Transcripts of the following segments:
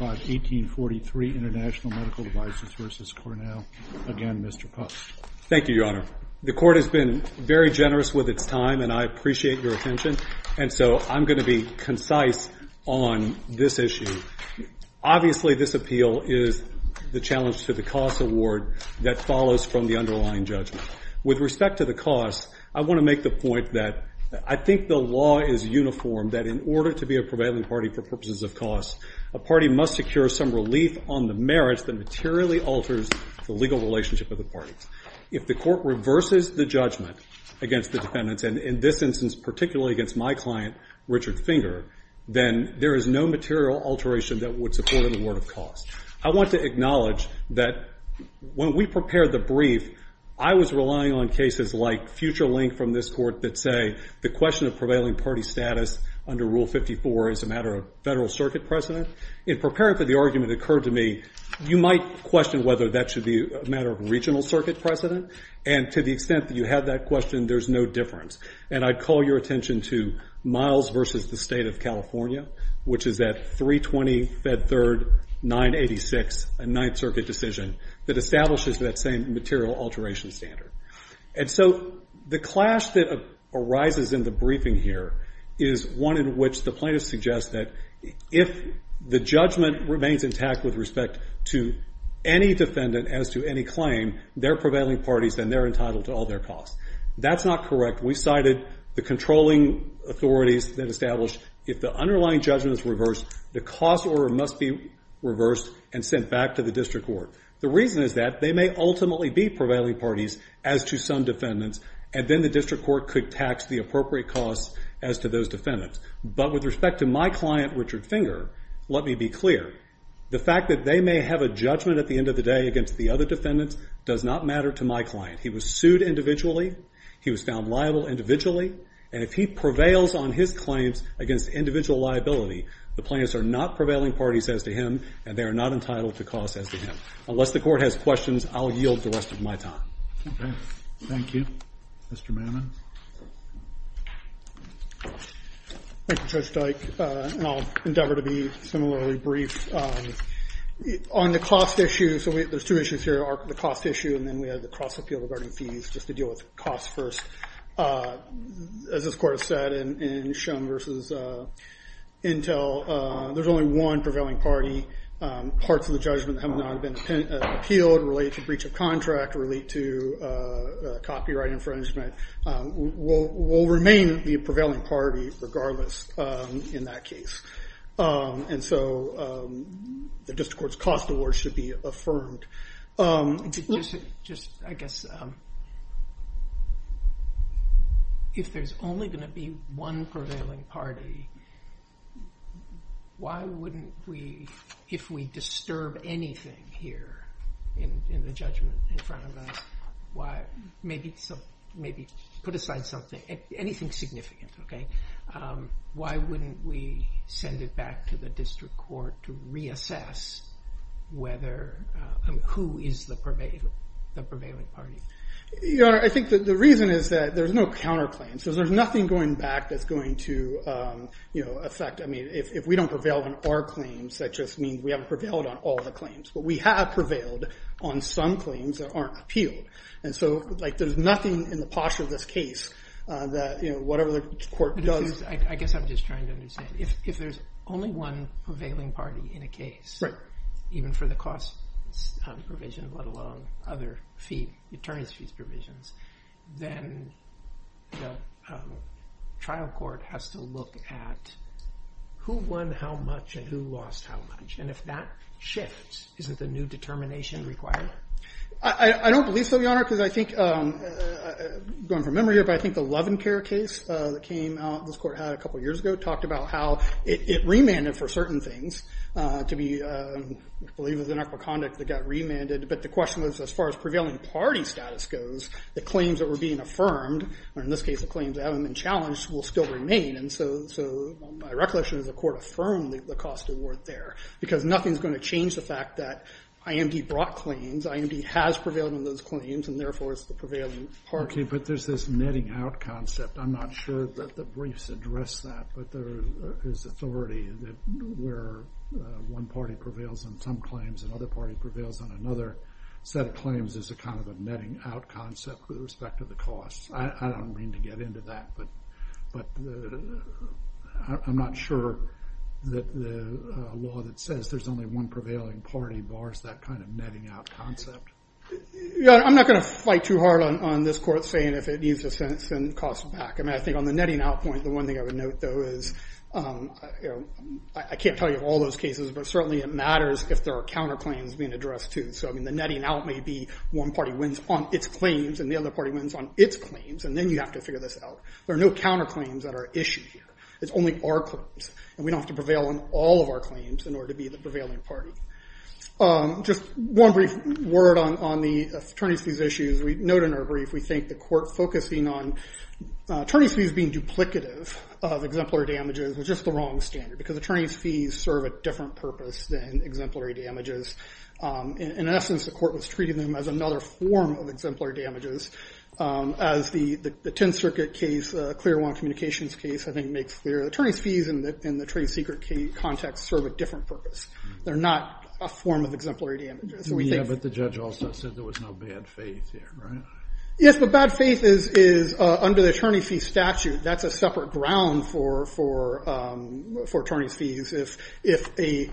1843, International Medical Devices v. Cornell. Again, Mr. Puff. Thank you, Your Honor. The Court has been very generous with its time, and I appreciate your attention. And so I'm going to be concise on this issue. Obviously, this appeal is the challenge to the cost award that follows from the underlying judgment. With respect to the cost, I want to make the point that I think the law is uniform, that in order to be a prevailing party for purposes of cost, a party must secure some relief on the merits that materially alters the legal relationship of the parties. If the Court reverses the judgment against the defendants, and in this instance particularly against my client, Richard Finger, then there is no material alteration that would support an award of cost. I want to acknowledge that when we prepared the brief, I was relying on cases like future link from this court that say the question of prevailing party status under Rule 54 is a matter of federal circuit precedent. In preparing for the argument that occurred to me, you might question whether that should be a matter of regional circuit precedent, and to the extent that you have that question, there's no difference. And I'd call your attention to Miles v. the State of California, which is that 320 Fed Third 986, a Ninth Circuit decision that establishes that same material alteration standard. And so the clash that arises in the briefing here is one in which the plaintiff suggests that if the judgment remains intact with respect to any defendant as to any claim, they're prevailing parties and they're entitled to all their costs. That's not correct. We cited the controlling authorities that established if the underlying judgment is reversed, the cost order must be reversed and sent back to the district court. The reason is that they may ultimately be prevailing parties as to some defendants, and then the district court could tax the appropriate costs as to those defendants. But with respect to my client, Richard Finger, let me be clear. The fact that they may have a judgment at the end of the day against the other defendants does not matter to my client. He was sued individually. He was found liable individually. And if he prevails on his claims against individual liability, the plaintiffs are not prevailing parties as to him and they are not entitled to costs as to him. Unless the court has questions, I'll yield the rest of my time. Okay. Thank you. Mr. Mannon. Thank you, Judge Dyke. And I'll endeavor to be similarly brief. On the cost issue, so there's two issues here, the cost issue and then we have the cross appeal regarding fees, just to deal with costs first. As this court has said in Shum versus Intel, there's only one prevailing party. Parts of the judgment have not been appealed related to breach of contract, related to copyright infringement, will remain the prevailing party regardless in that case. And so the district court's cost award should be affirmed. Just, I guess, if there's only going to be one prevailing party, why wouldn't we, if we disturb anything here in the judgment in front of us, maybe put aside something, anything significant, okay, why wouldn't we send it back to the district court to reassess whether, who is the prevailing party? Your Honor, I think the reason is that there's no counterclaims. There's nothing going back that's going to affect, I mean, if we don't prevail on our claims, that just means we haven't prevailed on all the claims. But we have prevailed on some claims that aren't appealed. And so there's nothing in the posh of this case that whatever the court does... I guess I'm just trying to understand. If there's only one prevailing party in a case, even for the cost provision, let alone other fee, attorneys' fees provisions, then the trial court has to look at who won how much and who lost how much. And if that shifts, isn't the new determination required? I don't believe so, Your Honor, because I think, going from memory here, but I think the Lovencare case that came out, this court had a couple of years ago, talked about how it remanded for certain things to be, I believe it was inequal conduct that got remanded. But the question was, as far as prevailing party status goes, the claims that were being affirmed, or in this case the claims that haven't been challenged, will still remain. And so my recollection is the court affirmed the cost and worth there, because nothing's going to change the fact that IMD brought claims. IMD has prevailed on those claims, and therefore it's the prevailing party. Okay, but there's this netting out concept. I'm not sure that the briefs address that, but there is authority where one party prevails on some claims, another party prevails on another set of claims. There's kind of a netting out concept with respect to the cost. I don't mean to get into that, but I'm not sure that the law that says there's only one prevailing party bars that kind of netting out concept. I'm not going to fight too hard on this court saying if it needs a sentence and costs back. I think on the netting out point, the one thing I would note, though, is I can't tell you all those cases, but certainly it matters if there are counterclaims being addressed, too. So the netting out may be one party wins on its claims, and the other party wins on its claims, and then you have to figure this out. There are no counterclaims that are issued here. It's only our claims, and we don't have to prevail on all of our claims in order to be the prevailing party. Just one brief word on the attorney's fees issues. We note in our brief we think the court focusing on attorney's fees being duplicative of exemplary damages was just the wrong standard, because attorney's fees serve a different purpose than exemplary damages. In essence, the court was treating them as another form of exemplary damages as the Tenth Circuit case, Clearwater Communications case, I think makes clear. Attorney's fees in the trade secret context serve a different purpose. They're not a form of exemplary damages. Yeah, but the judge also said there was no bad faith here, right? Yes, but bad faith is under the attorney's fee statute. That's a separate ground for attorney's fees. If a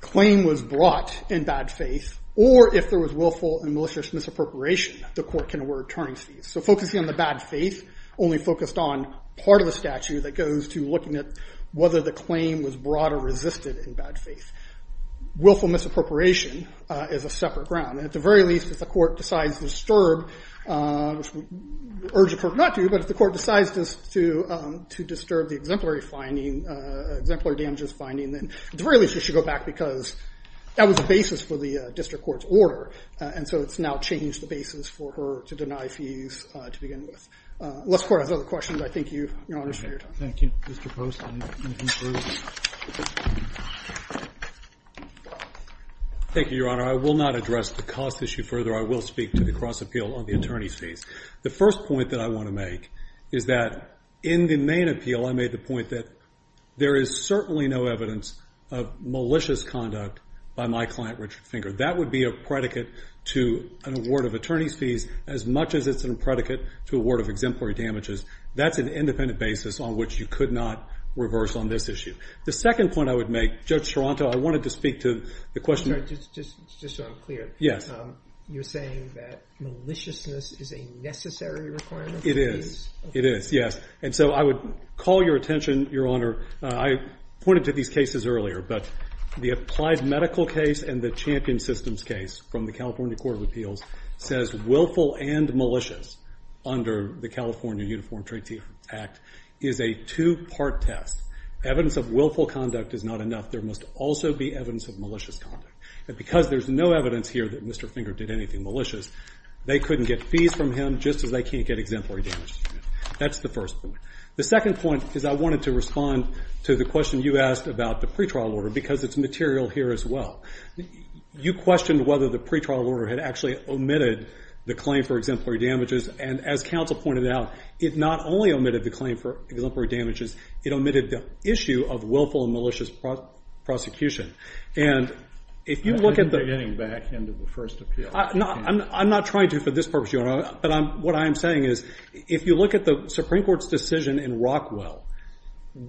claim was brought in bad faith or if there was willful and malicious misappropriation, the court can award attorney's fees. So focusing on the bad faith only focused on part of the statute that goes to looking at whether the claim was brought or resisted in bad faith. Willful misappropriation is a separate ground. At the very least, if the court decides to disturb, which we urge the court not to, but if the court decides to disturb the exemplary damages finding, then at the very least it should go back because that was the basis for the district court's order, and so it's now changed the basis for her to deny fees to begin with. Unless the court has other questions, I thank you, Your Honor, for your time. Thank you. Mr. Poston, anything further? Thank you, Your Honor. I will not address the cost issue further. I will speak to the cross-appeal on the attorney's fees. The first point that I want to make is that in the main appeal, I made the point that there is certainly no evidence of malicious conduct by my client, Richard Finger. That would be a predicate to an award of attorney's fees as much as it's a predicate to award of exemplary damages. That's an independent basis on which you could not reverse on this issue. The second point I would make, Judge Toronto, I wanted to speak to the question. Just so I'm clear, you're saying that maliciousness is a necessary requirement? It is. It is, yes. And so I would call your attention, Your Honor, I pointed to these cases earlier, but the Applied Medical case and the Champion Systems case from the California Court of Appeals says willful and malicious under the California Uniform Traitee Act is a two-part test. Evidence of willful conduct is not enough. There must also be evidence of malicious conduct. And because there's no evidence here that Mr. Finger did anything malicious, they couldn't get fees from him just as they can't get exemplary damages from him. That's the first point. The second point is I wanted to respond to the question you asked about the pre-trial order because it's material here as well. You questioned whether the pre-trial order had actually omitted the claim for exemplary damages, and as counsel pointed out, it not only omitted the claim for exemplary damages, it omitted the issue of willful and malicious prosecution. And if you look at the... I think they're getting back into the first appeal. I'm not trying to for this purpose, Your Honor, but what I am saying is if you look at the Supreme Court's decision in Rockwell,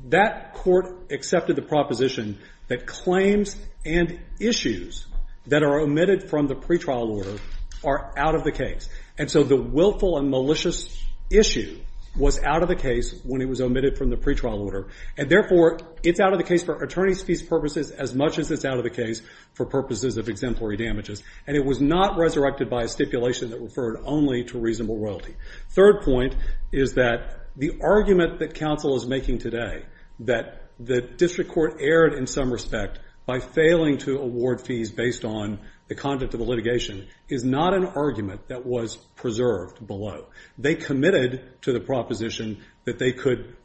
that court accepted the proposition that claims and issues that are omitted from the pre-trial order are out of the case. And so the willful and malicious issue was out of the case when it was omitted from the pre-trial order, and therefore it's out of the case for attorney's fees purposes as much as it's out of the case for purposes of exemplary damages. And it was not resurrected by a stipulation that referred only to reasonable royalty. Third point is that the argument that counsel is making today that the district court erred in some respect by failing to award fees based on the content of the litigation is not an argument that was preserved below. They committed to the proposition that they could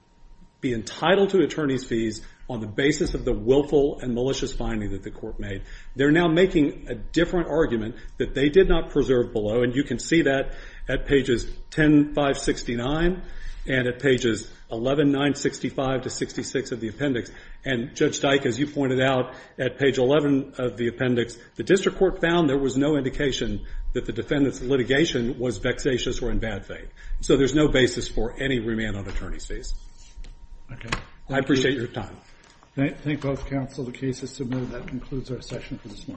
be entitled to attorney's fees on the basis of the willful and malicious finding that the court made. They're now making a different argument that they did not preserve below, and you can see that at pages 10-569 and at pages 11-965 to 66 of the appendix. And Judge Dyke, as you pointed out, at page 11 of the appendix, the district court found there was no indication that the defendant's litigation was vexatious or in bad faith. So there's no basis for any remand on attorney's fees. I appreciate your time. I thank both counsel. The case is submitted. That concludes our session for this morning.